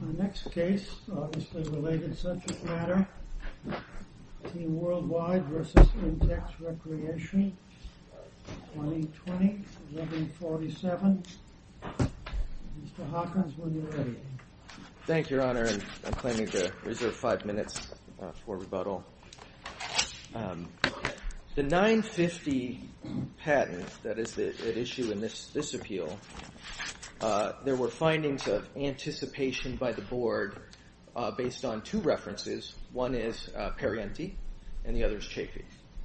The next case is a related subject matter. Team Worldwide v. Intex Recreation, 2020, 1147. Mr. Hawkins, when you're ready. Thank you, Your Honor. I'm claiming to reserve five minutes for rebuttal. The 950 patent that is at issue in this appeal, there were findings of anticipation by the Board based on two references. One is Perrienti and the other is Chafee.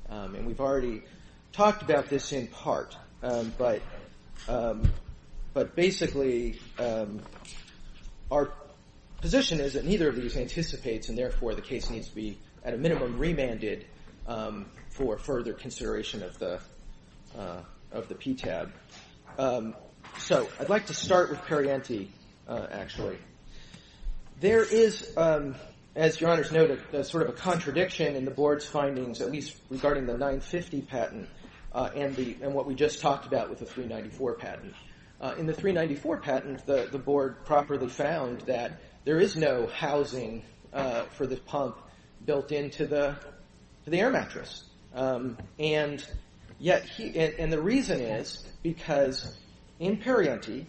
And we've already talked about this in part, but basically our position is that neither of these anticipates and therefore the case needs to be at a minimum remanded for further consideration of the PTAB. So I'd like to start with Perrienti, actually. There is, as Your Honor's noted, sort of a contradiction in the Board's findings, at least regarding the 950 patent and what we just talked about with the 394 patent. In the 394 patent, the Board properly found that there is no housing for the pump built into the air mattress. And the reason is because in Perrienti,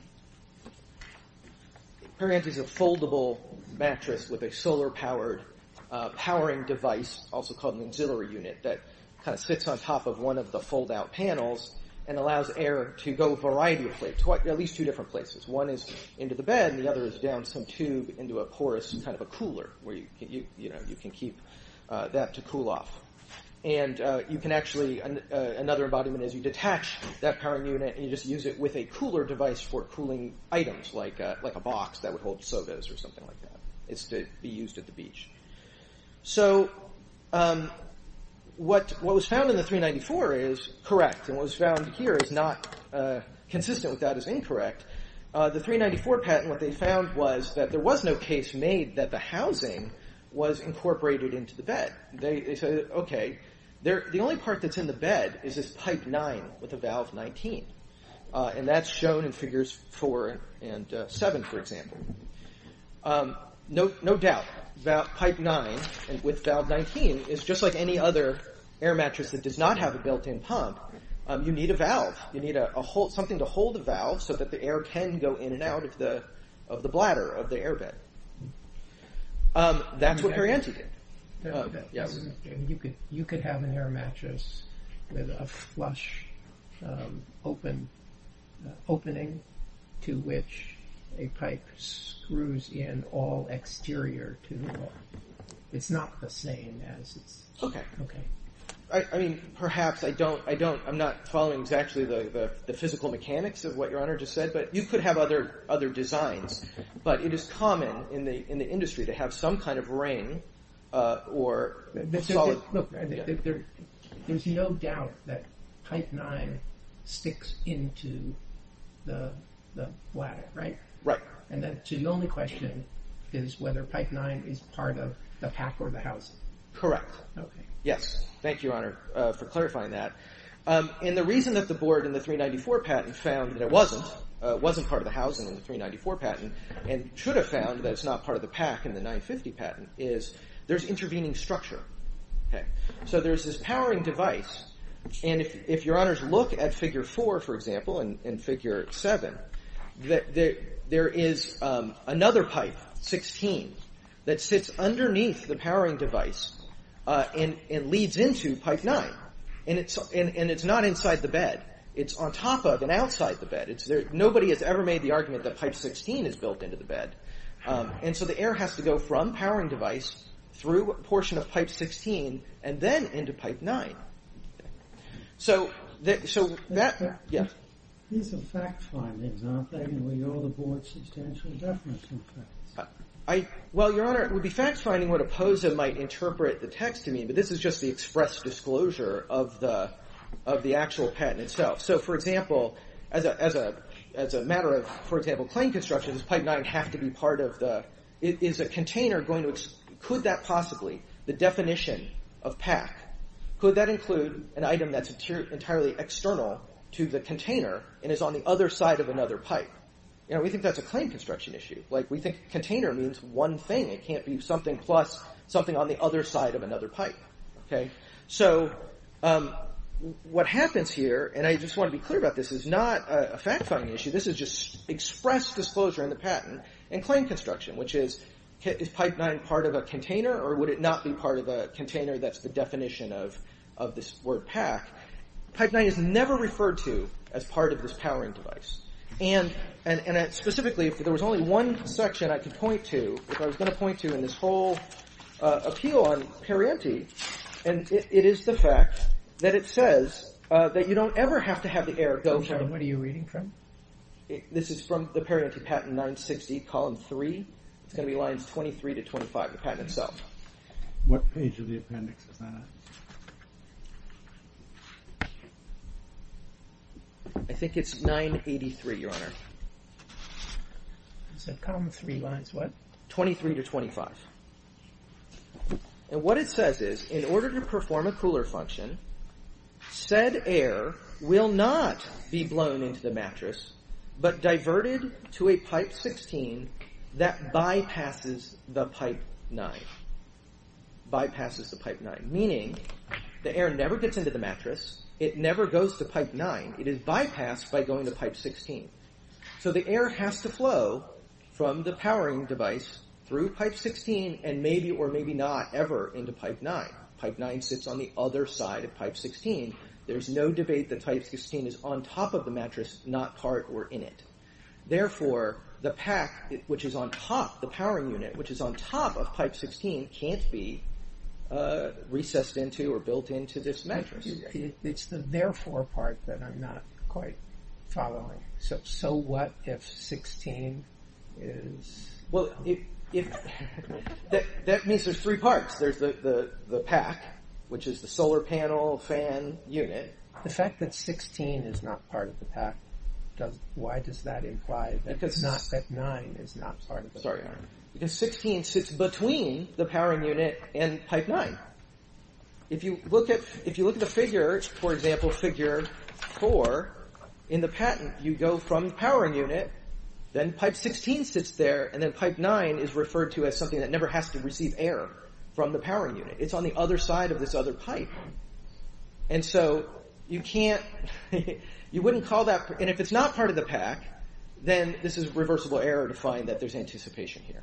Perrienti is a foldable mattress with a solar-powered powering device, also called an auxiliary unit, that kind of sits on top of one of the fold-out panels and allows air to go a variety of places, at least two different places. One is into the bed and the other is down some tube into a porous kind of a cooler where you can keep that to cool off. And you can actually, another embodiment is you detach that powering unit and you just use it with a cooler device for cooling items like a box that would hold sodas or something like that. It's to be used at the beach. So what was found in the 394 is correct and what was found here is not consistent with that as incorrect. The 394 patent, what they found was that there was no case made that the housing was incorporated into the bed. They said, okay, the only part that's in the bed is this pipe nine with a valve 19. And that's shown in figures four and seven, for example. No doubt, pipe nine with valve 19 is just like any other air mattress that does not have a built-in pump, you need a valve. You need something to hold the valve so that the air can go in and out of the bladder of the air bed. That's what Perianty did. You could have an air mattress with a flush opening to which a pipe screws in all exterior to the wall. It's not the same as... Perhaps, I'm not following exactly the physical mechanics of what your honor just said, but you could have other designs, but it is common in the industry to have some kind of ring or solid... There's no doubt that pipe nine sticks into the bladder, right? Right. And the only question is whether pipe nine is part of the pack or the housing. Correct. Yes. Thank you, your honor, for clarifying that. And the reason that the board in the 394 patent found that it wasn't part of the housing in the 394 patent and should have found that it's not part of the pack in the 950 patent is there's intervening structure. So there's this powering device, and if your honors look at figure four, for example, and figure seven, there is another pipe, 16, that sits underneath the powering device and leads into pipe nine, and it's not inside the bed. It's on top of and outside the bed. Nobody has ever made the argument that pipe 16 is built into the bed. And so the air has to go from powering device through a portion of pipe 16 and then into pipe nine. So that... Yes. These are fact findings, aren't they? And we owe the board substantial definition of facts. Well, your honor, it would be fact finding what opposed it might interpret the text to mean, but this is just the express disclosure of the actual patent itself. So, for example, as a matter of, for example, claim construction, does pipe nine have to be part of the... Is a container going to... Could that possibly, the definition of pack, could that include an item that's entirely external to the container and is on the other side of another pipe? We think that's a claim construction issue. We think container means one thing. It can't be something plus something on the other side of another pipe. So what happens here, and I just want to be clear about this, is not a fact finding issue. This is just express disclosure in the patent and claim construction, which is, is pipe nine part of a container or would it not be part of a container? That's the definition of this word pack. Pipe nine is never referred to as part of this powering device. And specifically, if there was only one section I could point to, if I was going to point to in this whole appeal on Perrienti, and it is the fact that it says that you don't ever have to have the error go from... What are you reading from? This is from the Perrienti patent 960, column three. It's going to be lines 23 to 25, the patent itself. What page of the appendix is that? I think it's 983, Your Honor. It said column three lines what? 23 to 25. And what it says is, in order to perform a cooler function, said air will not be blown into the mattress, but diverted to a pipe 16 that bypasses the pipe nine. Bypasses the pipe nine, meaning the air never gets into the mattress. It never goes to pipe nine. It is bypassed by going to pipe 16. So the air has to flow from the powering device through pipe 16 and maybe or maybe not ever into pipe nine. Pipe nine sits on the other side of pipe 16. There's no debate that pipe 16 is on top of the mattress, not part or in it. Therefore, the pack, which is on top, the powering unit, which is on top of pipe 16, can't be recessed into or built into this mattress. It's the therefore part that I'm not quite following. So what if 16 is... That means there's three parts. There's the pack, which is the solar panel fan unit. The fact that 16 is not part of the pack, why does that imply that nine is not part of the pack? Because 16 sits between the powering unit and pipe nine. If you look at the figure, for example, figure four in the patent, you go from the powering unit, then pipe 16 sits there, and then pipe nine is referred to as something that never has to receive air from the powering unit. It's on the other side of this other pipe. And so you can't... You wouldn't call that... And if it's not part of the pack, then this is reversible error to find that there's anticipation here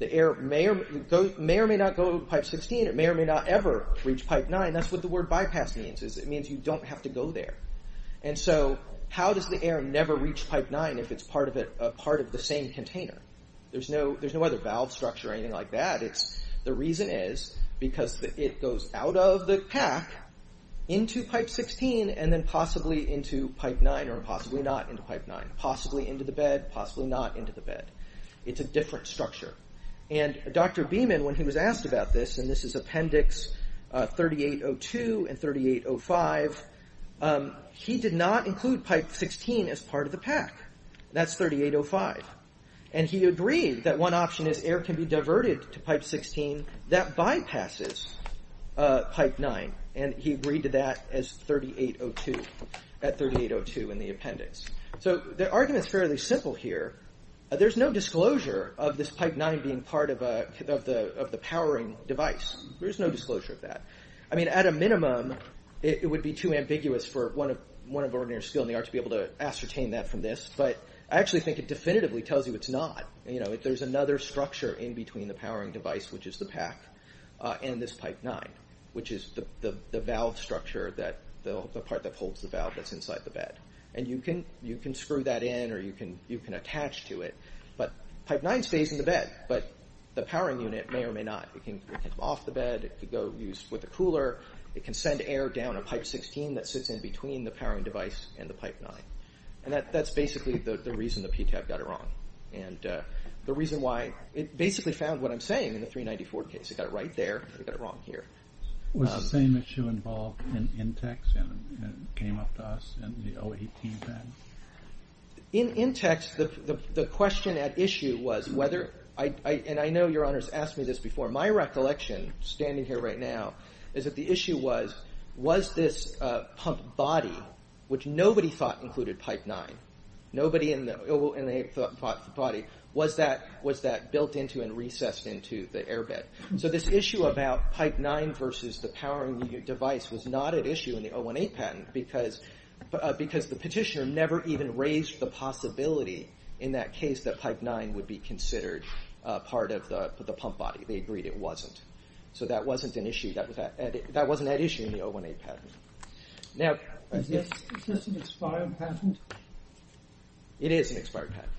The air may or may not go to pipe 16. It may or may not ever reach pipe nine. That's what the word bypass means. It means you don't have to go there. And so how does the air never reach pipe nine if it's part of the same container? There's no other valve structure or anything like that. The reason is because it goes out of the pack into pipe 16 and then possibly into pipe nine or possibly not into pipe nine, possibly into the bed, possibly not into the bed. It's a different structure. And Dr. Beeman, when he was asked about this, and this is appendix 3802 and 3805, he did not include pipe 16 as part of the pack. That's 3805. And he agreed that one option is air can be diverted to pipe 16. That bypasses pipe nine. And he agreed to that as 3802, at 3802 in the appendix. So the argument's fairly simple here. There's no disclosure of this pipe nine being part of the powering device. There's no disclosure of that. I mean, at a minimum, it would be too ambiguous for one of ordinary skill in the art to be able to ascertain that from this. But I actually think it definitively tells you it's not. There's another structure in between the powering device, which is the pack, and this pipe nine, which is the valve structure, the part that holds the valve that's inside the bed. And you can screw that in or you can attach to it. But pipe nine stays in the bed, but the powering unit may or may not. It can come off the bed. It can go used with a cooler. It can send air down a pipe 16 that sits in between the powering device and the pipe nine. And that's basically the reason the PTAB got it wrong and the reason why it basically found what I'm saying in the 394 case. It got it right there. It got it wrong here. Was the same issue involved in INTEX and came up to us in the 018 bed? In INTEX, the question at issue was whether—and I know Your Honors asked me this before. My recollection, standing here right now, is that the issue was, was this pump body, which nobody thought included pipe nine, nobody in the body, was that built into and recessed into the air bed? So this issue about pipe nine versus the powering device was not at issue in the 018 patent because the petitioner never even raised the possibility in that case that pipe nine would be considered part of the pump body. They agreed it wasn't. So that wasn't at issue in the 018 patent. Now— Is this an expired patent? It is an expired patent.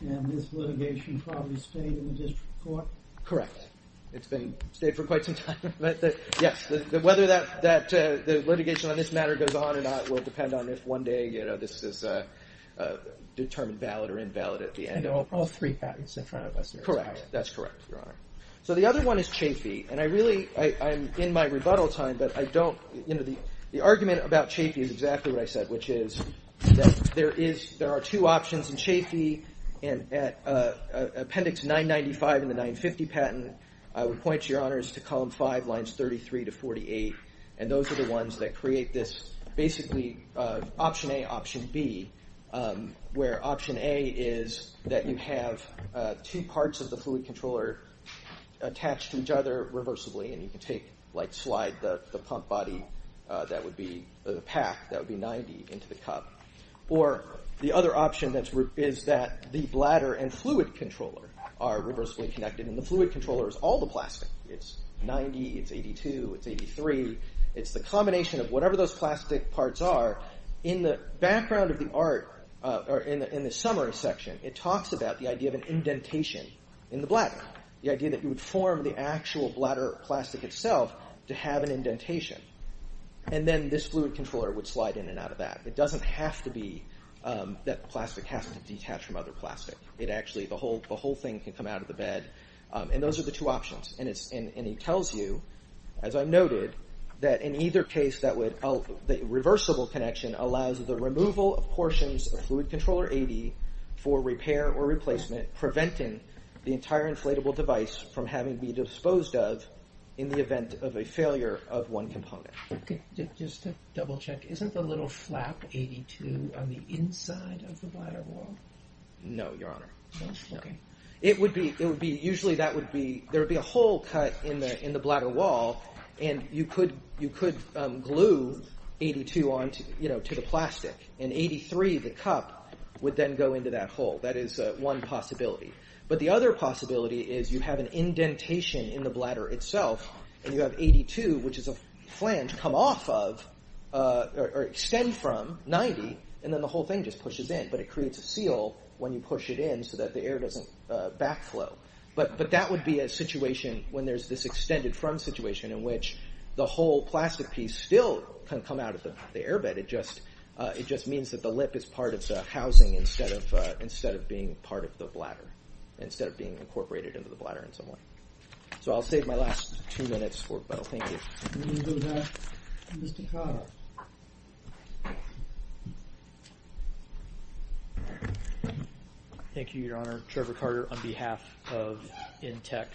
And this litigation probably stayed in the district court? Correct. It's been—stayed for quite some time. Yes. Whether that litigation on this matter goes on or not will depend on if one day, you know, this is determined valid or invalid at the end of— And all three patents in front of us. Correct. That's correct, Your Honor. So the other one is Chafee. And I really—I'm in my rebuttal time, but I don't— you know, the argument about Chafee is exactly what I said, which is that there are two options in Chafee. And at Appendix 995 in the 950 patent, I would point you, Your Honors, to column five, lines 33 to 48. And those are the ones that create this basically option A, option B, where option A is that you have two parts of the fluid controller attached to each other reversibly, and you can take, like, slide the pump body that would be— into the cup. Or the other option that's— is that the bladder and fluid controller are reversibly connected, and the fluid controller is all the plastic. It's 90, it's 82, it's 83. It's the combination of whatever those plastic parts are. In the background of the art— or in the summary section, it talks about the idea of an indentation in the bladder, the idea that you would form the actual bladder plastic itself to have an indentation. And then this fluid controller would slide in and out of that. It doesn't have to be that plastic has to detach from other plastic. It actually—the whole thing can come out of the bed. And those are the two options. And it tells you, as I noted, that in either case that would— the reversible connection allows the removal of portions of fluid controller 80 for repair or replacement, preventing the entire inflatable device from having to be disposed of in the event of a failure of one component. Just to double-check, isn't the little flap 82 on the inside of the bladder wall? No, Your Honor. Okay. It would be—it would be— usually that would be— there would be a hole cut in the bladder wall, and you could glue 82 on to the plastic. And 83, the cup, would then go into that hole. That is one possibility. But the other possibility is you have an indentation in the bladder itself, and you have 82, which is a flange, come off of or extend from 90, and then the whole thing just pushes in. But it creates a seal when you push it in so that the air doesn't backflow. But that would be a situation when there's this extended front situation in which the whole plastic piece still can come out of the airbed. It just means that the lip is part of the housing instead of being part of the bladder, instead of being incorporated into the bladder in some way. So I'll save my last two minutes for Bo. Thank you. We're going to go back to Mr. Carter. Thank you, Your Honor. Trevor Carter on behalf of Intex.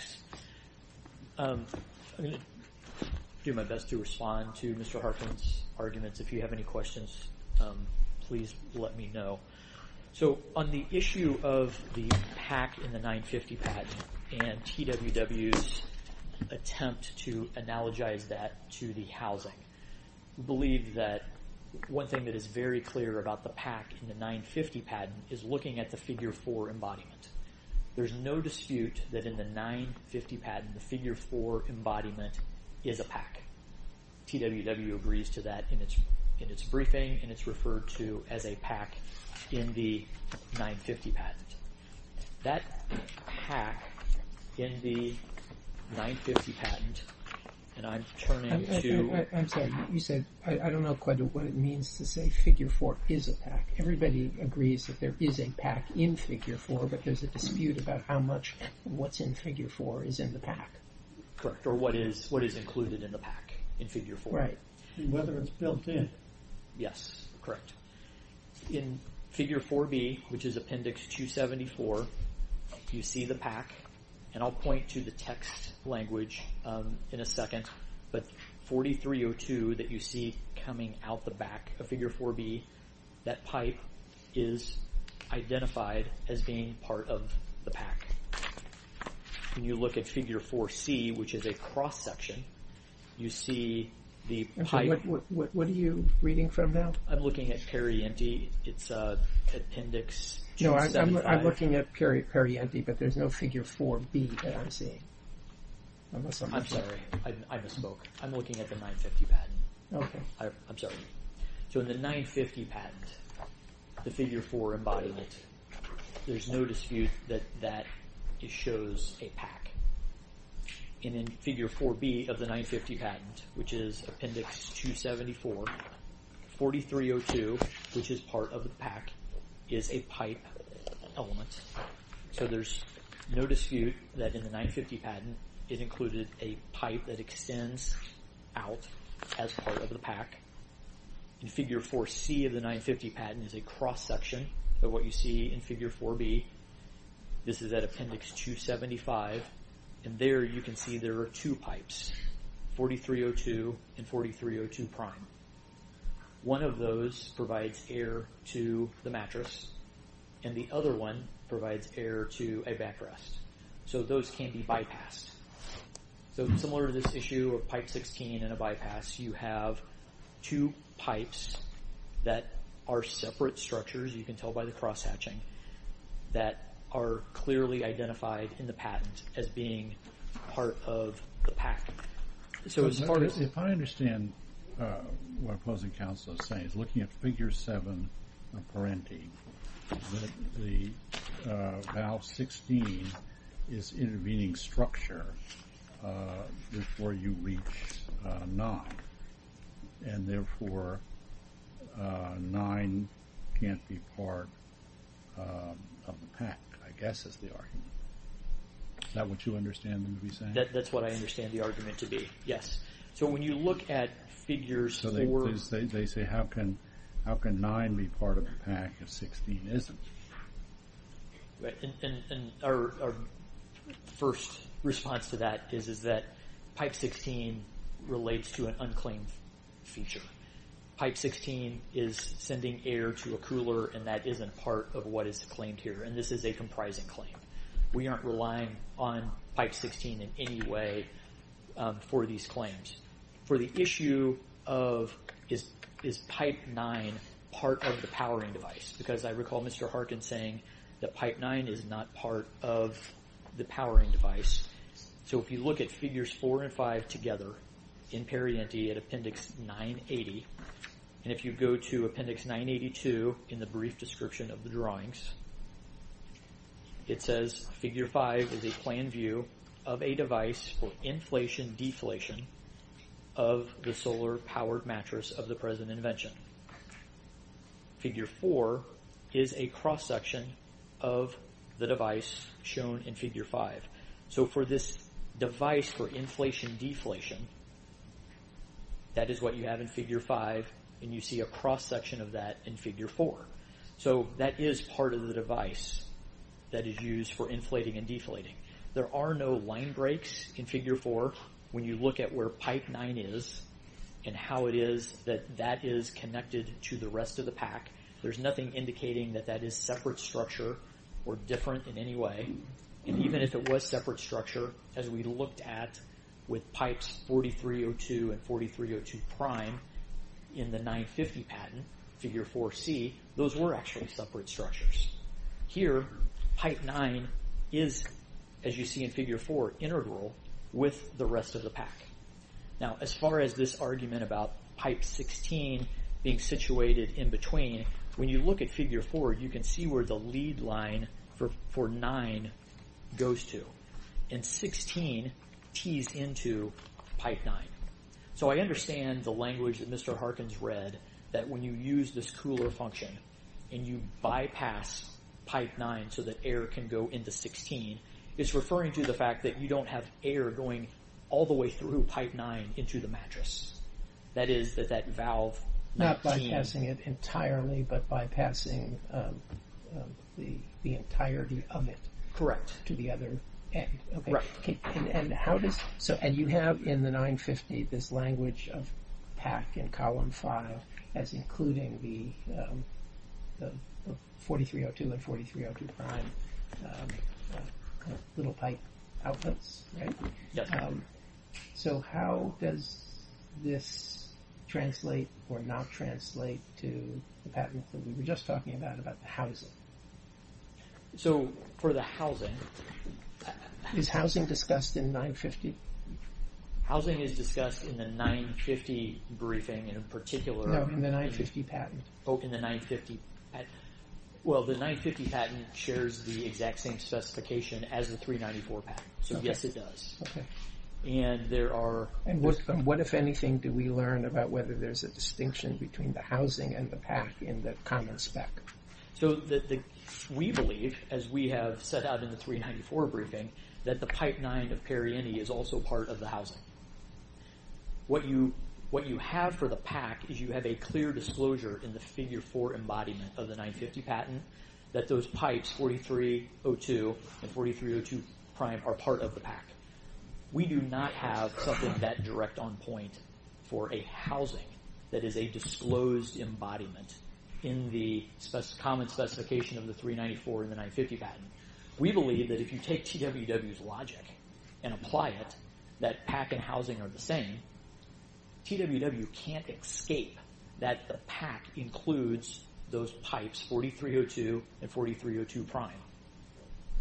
If you have any questions, please let me know. So on the issue of the pack in the 950 patent and TWW's attempt to analogize that to the housing, we believe that one thing that is very clear about the pack in the 950 patent is looking at the figure 4 embodiment. There's no dispute that in the 950 patent, the figure 4 embodiment is a pack. TWW agrees to that in its briefing and it's referred to as a pack in the 950 patent. That pack in the 950 patent, and I'm turning to... I'm sorry. You said, I don't know quite what it means to say figure 4 is a pack. Everybody agrees that there is a pack in figure 4, but there's a dispute about how much what's in figure 4 is in the pack. Correct. Or what is included in the pack in figure 4. And whether it's built in. Yes, correct. In figure 4B, which is appendix 274, you see the pack, and I'll point to the text language in a second, but 4302 that you see coming out the back of figure 4B, that pipe is identified as being part of the pack. When you look at figure 4C, which is a cross section, you see the pipe. What are you reading from now? I'm looking at Perrienti. It's appendix 275. I'm looking at Perrienti, but there's no figure 4B that I'm seeing. I'm sorry. I misspoke. I'm looking at the 950 patent. Okay. I'm sorry. So in the 950 patent, the figure 4 embodiment, there's no dispute that it shows a pack. And in figure 4B of the 950 patent, which is appendix 274, 4302, which is part of the pack, is a pipe element. So there's no dispute that in the 950 patent, it included a pipe that extends out as part of the pack. In figure 4C of the 950 patent is a cross section, but what you see in figure 4B, this is at appendix 275, and there you can see there are two pipes, 4302 and 4302 prime. One of those provides air to the mattress, and the other one provides air to a backrest. So those can be bypassed. So similar to this issue of pipe 16 and a bypass, you have two pipes that are separate structures. You can tell by the cross hatching that are clearly identified in the patent as being part of the pack. If I understand what opposing counsel is saying, looking at figure 7 of Parenti, the valve 16 is intervening structure before you reach 9, and therefore 9 can't be part of the pack, I guess is the argument. Is that what you understand them to be saying? That's what I understand the argument to be, yes. So when you look at figures for... So they say how can 9 be part of the pack if 16 isn't? Our first response to that is that pipe 16 relates to an unclaimed feature. Pipe 16 is sending air to a cooler, and that isn't part of what is claimed here, and this is a comprising claim. We aren't relying on pipe 16 in any way for these claims. For the issue of is pipe 9 part of the powering device, because I recall Mr. Harkin saying that pipe 9 is not part of the powering device. So if you look at figures 4 and 5 together in Parenti at Appendix 980, and if you go to Appendix 982 in the brief description of the drawings, it says figure 5 is a plan view of a device for inflation-deflation of the solar-powered mattress of the present invention. Figure 4 is a cross-section of the device shown in figure 5. So for this device for inflation-deflation, that is what you have in figure 5, and you see a cross-section of that in figure 4. So that is part of the device that is used for inflating and deflating. There are no line breaks in figure 4 when you look at where pipe 9 is and how it is that that is connected to the rest of the pack. There's nothing indicating that that is separate structure or different in any way. And even if it was separate structure, as we looked at with pipes 4302 and 4302' in the 950 patent, figure 4c, those were actually separate structures. Here, pipe 9 is, as you see in figure 4, integral with the rest of the pack. Now, as far as this argument about pipe 16 being situated in between, when you look at figure 4, you can see where the lead line for 9 goes to. And 16 tees into pipe 9. So I understand the language that Mr. Harkins read, that when you use this cooler function and you bypass pipe 9 so that air can go into 16, it's referring to the fact that you don't have air going all the way through pipe 9 into the mattress. That is, that that valve... Not bypassing it entirely, but bypassing the entirety of it. Correct. To the other end. Correct. And you have in the 950 this language of pack in column 5 as including the 4302 and 4302' little pipe outputs, right? Yes. So how does this translate or not translate to the patent that we were just talking about, about the housing? So for the housing... Is housing discussed in 950? Housing is discussed in the 950 briefing in particular. No, in the 950 patent. Oh, in the 950 patent. Well, the 950 patent shares the exact same specification as the 394 patent. So yes, it does. Okay. And there are... And what, if anything, do we learn about whether there's a distinction between the housing and the pack in the common spec? So we believe, as we have set out in the 394 briefing, that the pipe 9 of Perrieni is also part of the housing. What you have for the pack is you have a clear disclosure in the figure 4 embodiment of the 950 patent that those pipes 4302 and 4302' are part of the pack. We do not have something that direct on point for a housing that is a disclosed embodiment in the common specification of the 394 and the 950 patent. We believe that if you take TWW's logic and apply it, that pack and housing are the same, TWW can't escape that the pack includes those pipes 4302 and 4302'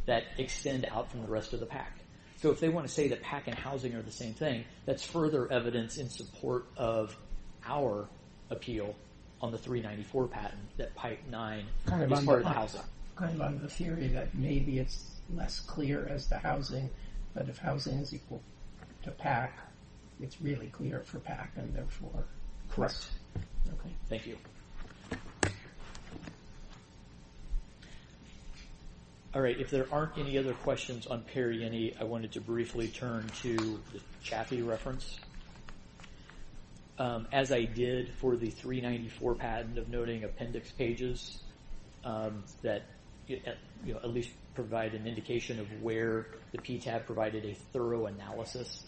that extend out from the rest of the pack. So if they want to say that pack and housing are the same thing, that's further evidence in support of our appeal on the 394 patent that pipe 9 is part of the housing. Kind of on the theory that maybe it's less clear as the housing, but if housing is equal to pack, it's really clear for pack and therefore... Correct. Okay. Thank you. Alright, if there aren't any other questions on Perrini, I wanted to briefly turn to the Chaffee reference. As I did for the 394 patent of noting appendix pages that at least provide an indication of where the PTAB provided a thorough analysis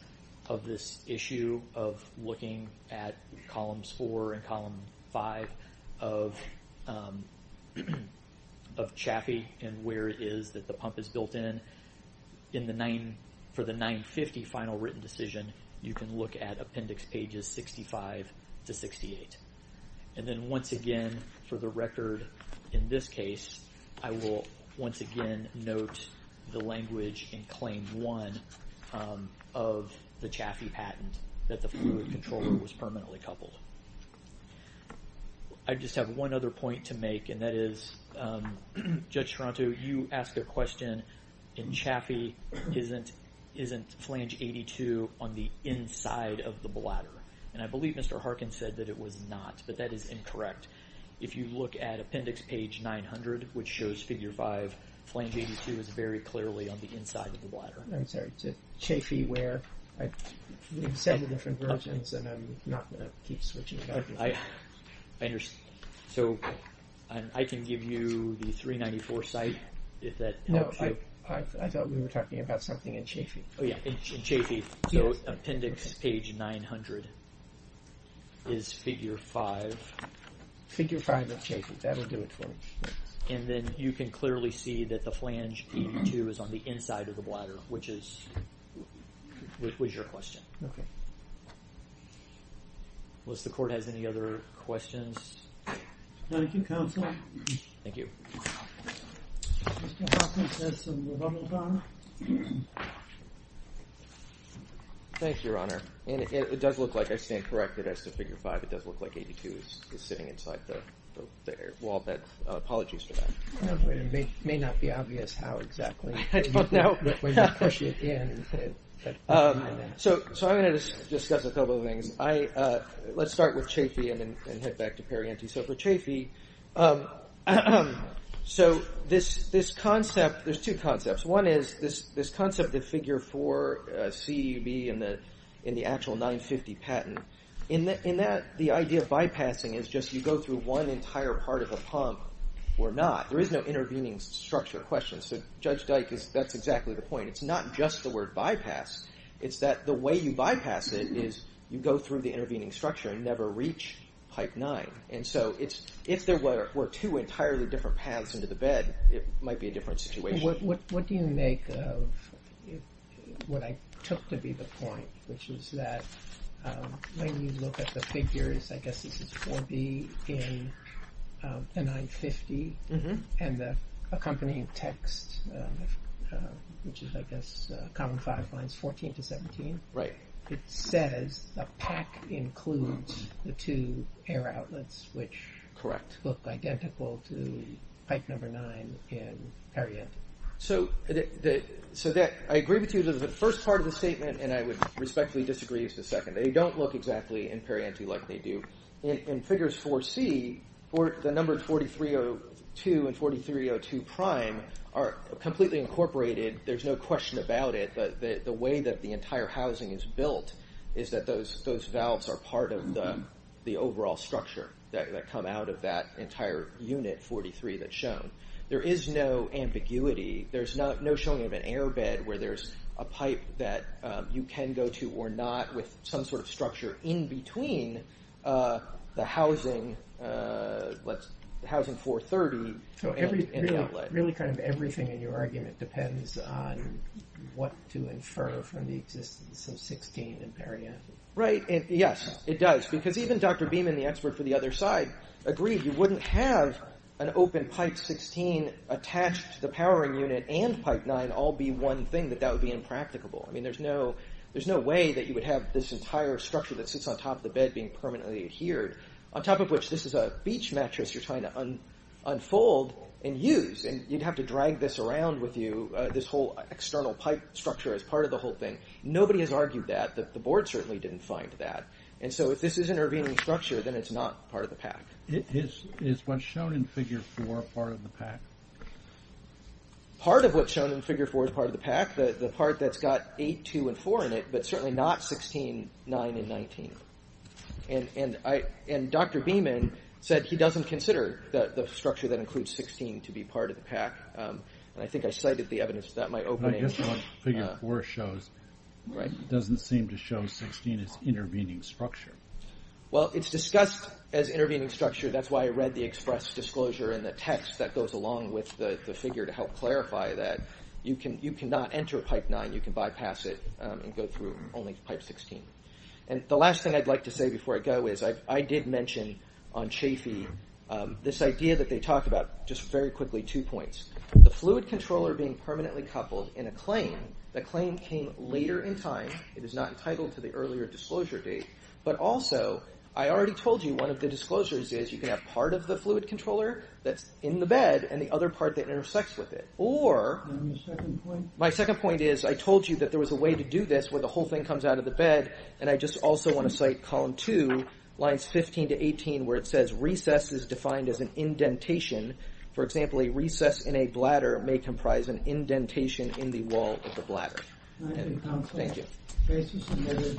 of this issue of looking at columns 4 and column 5 of Chaffee and where it is that the pump is built in. For the 950 final written decision, you can look at appendix pages 65 to 68. And then once again, for the record in this case, I will once again note the language in claim 1 of the Chaffee patent that the fluid controller was permanently coupled. I just have one other point to make and that is, Judge Toronto, you asked a question in Chaffee, isn't flange 82 on the inside of the bladder? And I believe Mr. Harkin said that it was not, but that is incorrect. If you look at appendix page 900, which shows figure 5, flange 82 is very clearly on the inside of the bladder. I'm sorry, Chaffee where? There are several different versions and I'm not going to keep switching back and forth. I understand. So I can give you the 394 site if that helps you. Oh yeah, in Chaffee. So appendix page 900 is figure 5. Figure 5 of Chaffee, that will do it for me. And then you can clearly see that the flange 82 is on the inside of the bladder, which was your question. Okay. Unless the court has any other questions. Thank you, counsel. Thank you. Mr. Harkin, does someone want to comment? Thank you, your honor. It does look like I stand corrected as to figure 5. It does look like 82 is sitting inside the air wall. Apologies for that. It may not be obvious how exactly. I don't know. So I'm going to discuss a couple of things. Let's start with Chaffee and then head back to Perrienti. So for Chaffee, so this concept, there's two concepts. One is this concept of figure 4 CEUB in the actual 950 patent. In that, the idea of bypassing is just you go through one entire part of a pump or not. There is no intervening structure question. So Judge Dyke, that's exactly the point. It's not just the word bypass. It's that the way you bypass it is you go through the intervening structure and never reach pipe 9. And so if there were two entirely different paths into the bed, it might be a different situation. What do you make of what I took to be the point, which is that when you look at the figures, I guess this is 4B in the 950, and the accompanying text, which is I guess Common 5 lines 14 to 17. It says the pack includes the two air outlets, which look identical to pipe number 9 in Perrienti. So I agree with you that the first part of the statement, and I would respectfully disagree with the second. They don't look exactly in Perrienti like they do. In figures 4C, the number 4302 and 4302 prime are completely incorporated. There's no question about it. The way that the entire housing is built is that those valves are part of the overall structure that come out of that entire unit, 43, that's shown. There is no ambiguity. There's no showing of an air bed where there's a pipe that you can go to or not with some sort of structure in between the housing 430 and the outlet. Really kind of everything in your argument depends on what to infer from the existence of 16 in Perrienti. Yes, it does, because even Dr. Beeman, the expert for the other side, agreed you wouldn't have an open pipe 16 attached to the powering unit and pipe 9 all be one thing. That would be impracticable. There's no way that you would have this entire structure that sits on top of the bed being permanently adhered, on top of which this is a beach mattress you're trying to unfold and use, and you'd have to drag this around with you, this whole external pipe structure as part of the whole thing. Nobody has argued that. The board certainly didn't find that. And so if this is an intervening structure, then it's not part of the pack. Is what's shown in figure 4 part of the pack? Part of what's shown in figure 4 is part of the pack. The part that's got 8, 2, and 4 in it, but certainly not 16, 9, and 19. And Dr. Beeman said he doesn't consider the structure that includes 16 to be part of the pack. And I think I cited the evidence of that in my opening. I guess what figure 4 shows doesn't seem to show 16 as intervening structure. Well, it's discussed as intervening structure. That's why I read the express disclosure in the text that goes along with the figure to help clarify that. You cannot enter pipe 9. You can bypass it and go through only pipe 16. And the last thing I'd like to say before I go is I did mention on Chafee this idea that they talk about, just very quickly, two points. The fluid controller being permanently coupled in a claim, the claim came later in time. It is not entitled to the earlier disclosure date. But also, I already told you one of the disclosures is you can have part of the fluid controller that's in the bed and the other part that intersects with it. Or my second point is I told you that there was a way to do this where the whole thing comes out of the bed. And I just also want to cite column 2, lines 15 to 18, where it says recess is defined as an indentation. For example, a recess in a bladder may comprise an indentation in the wall of the bladder. Thank you.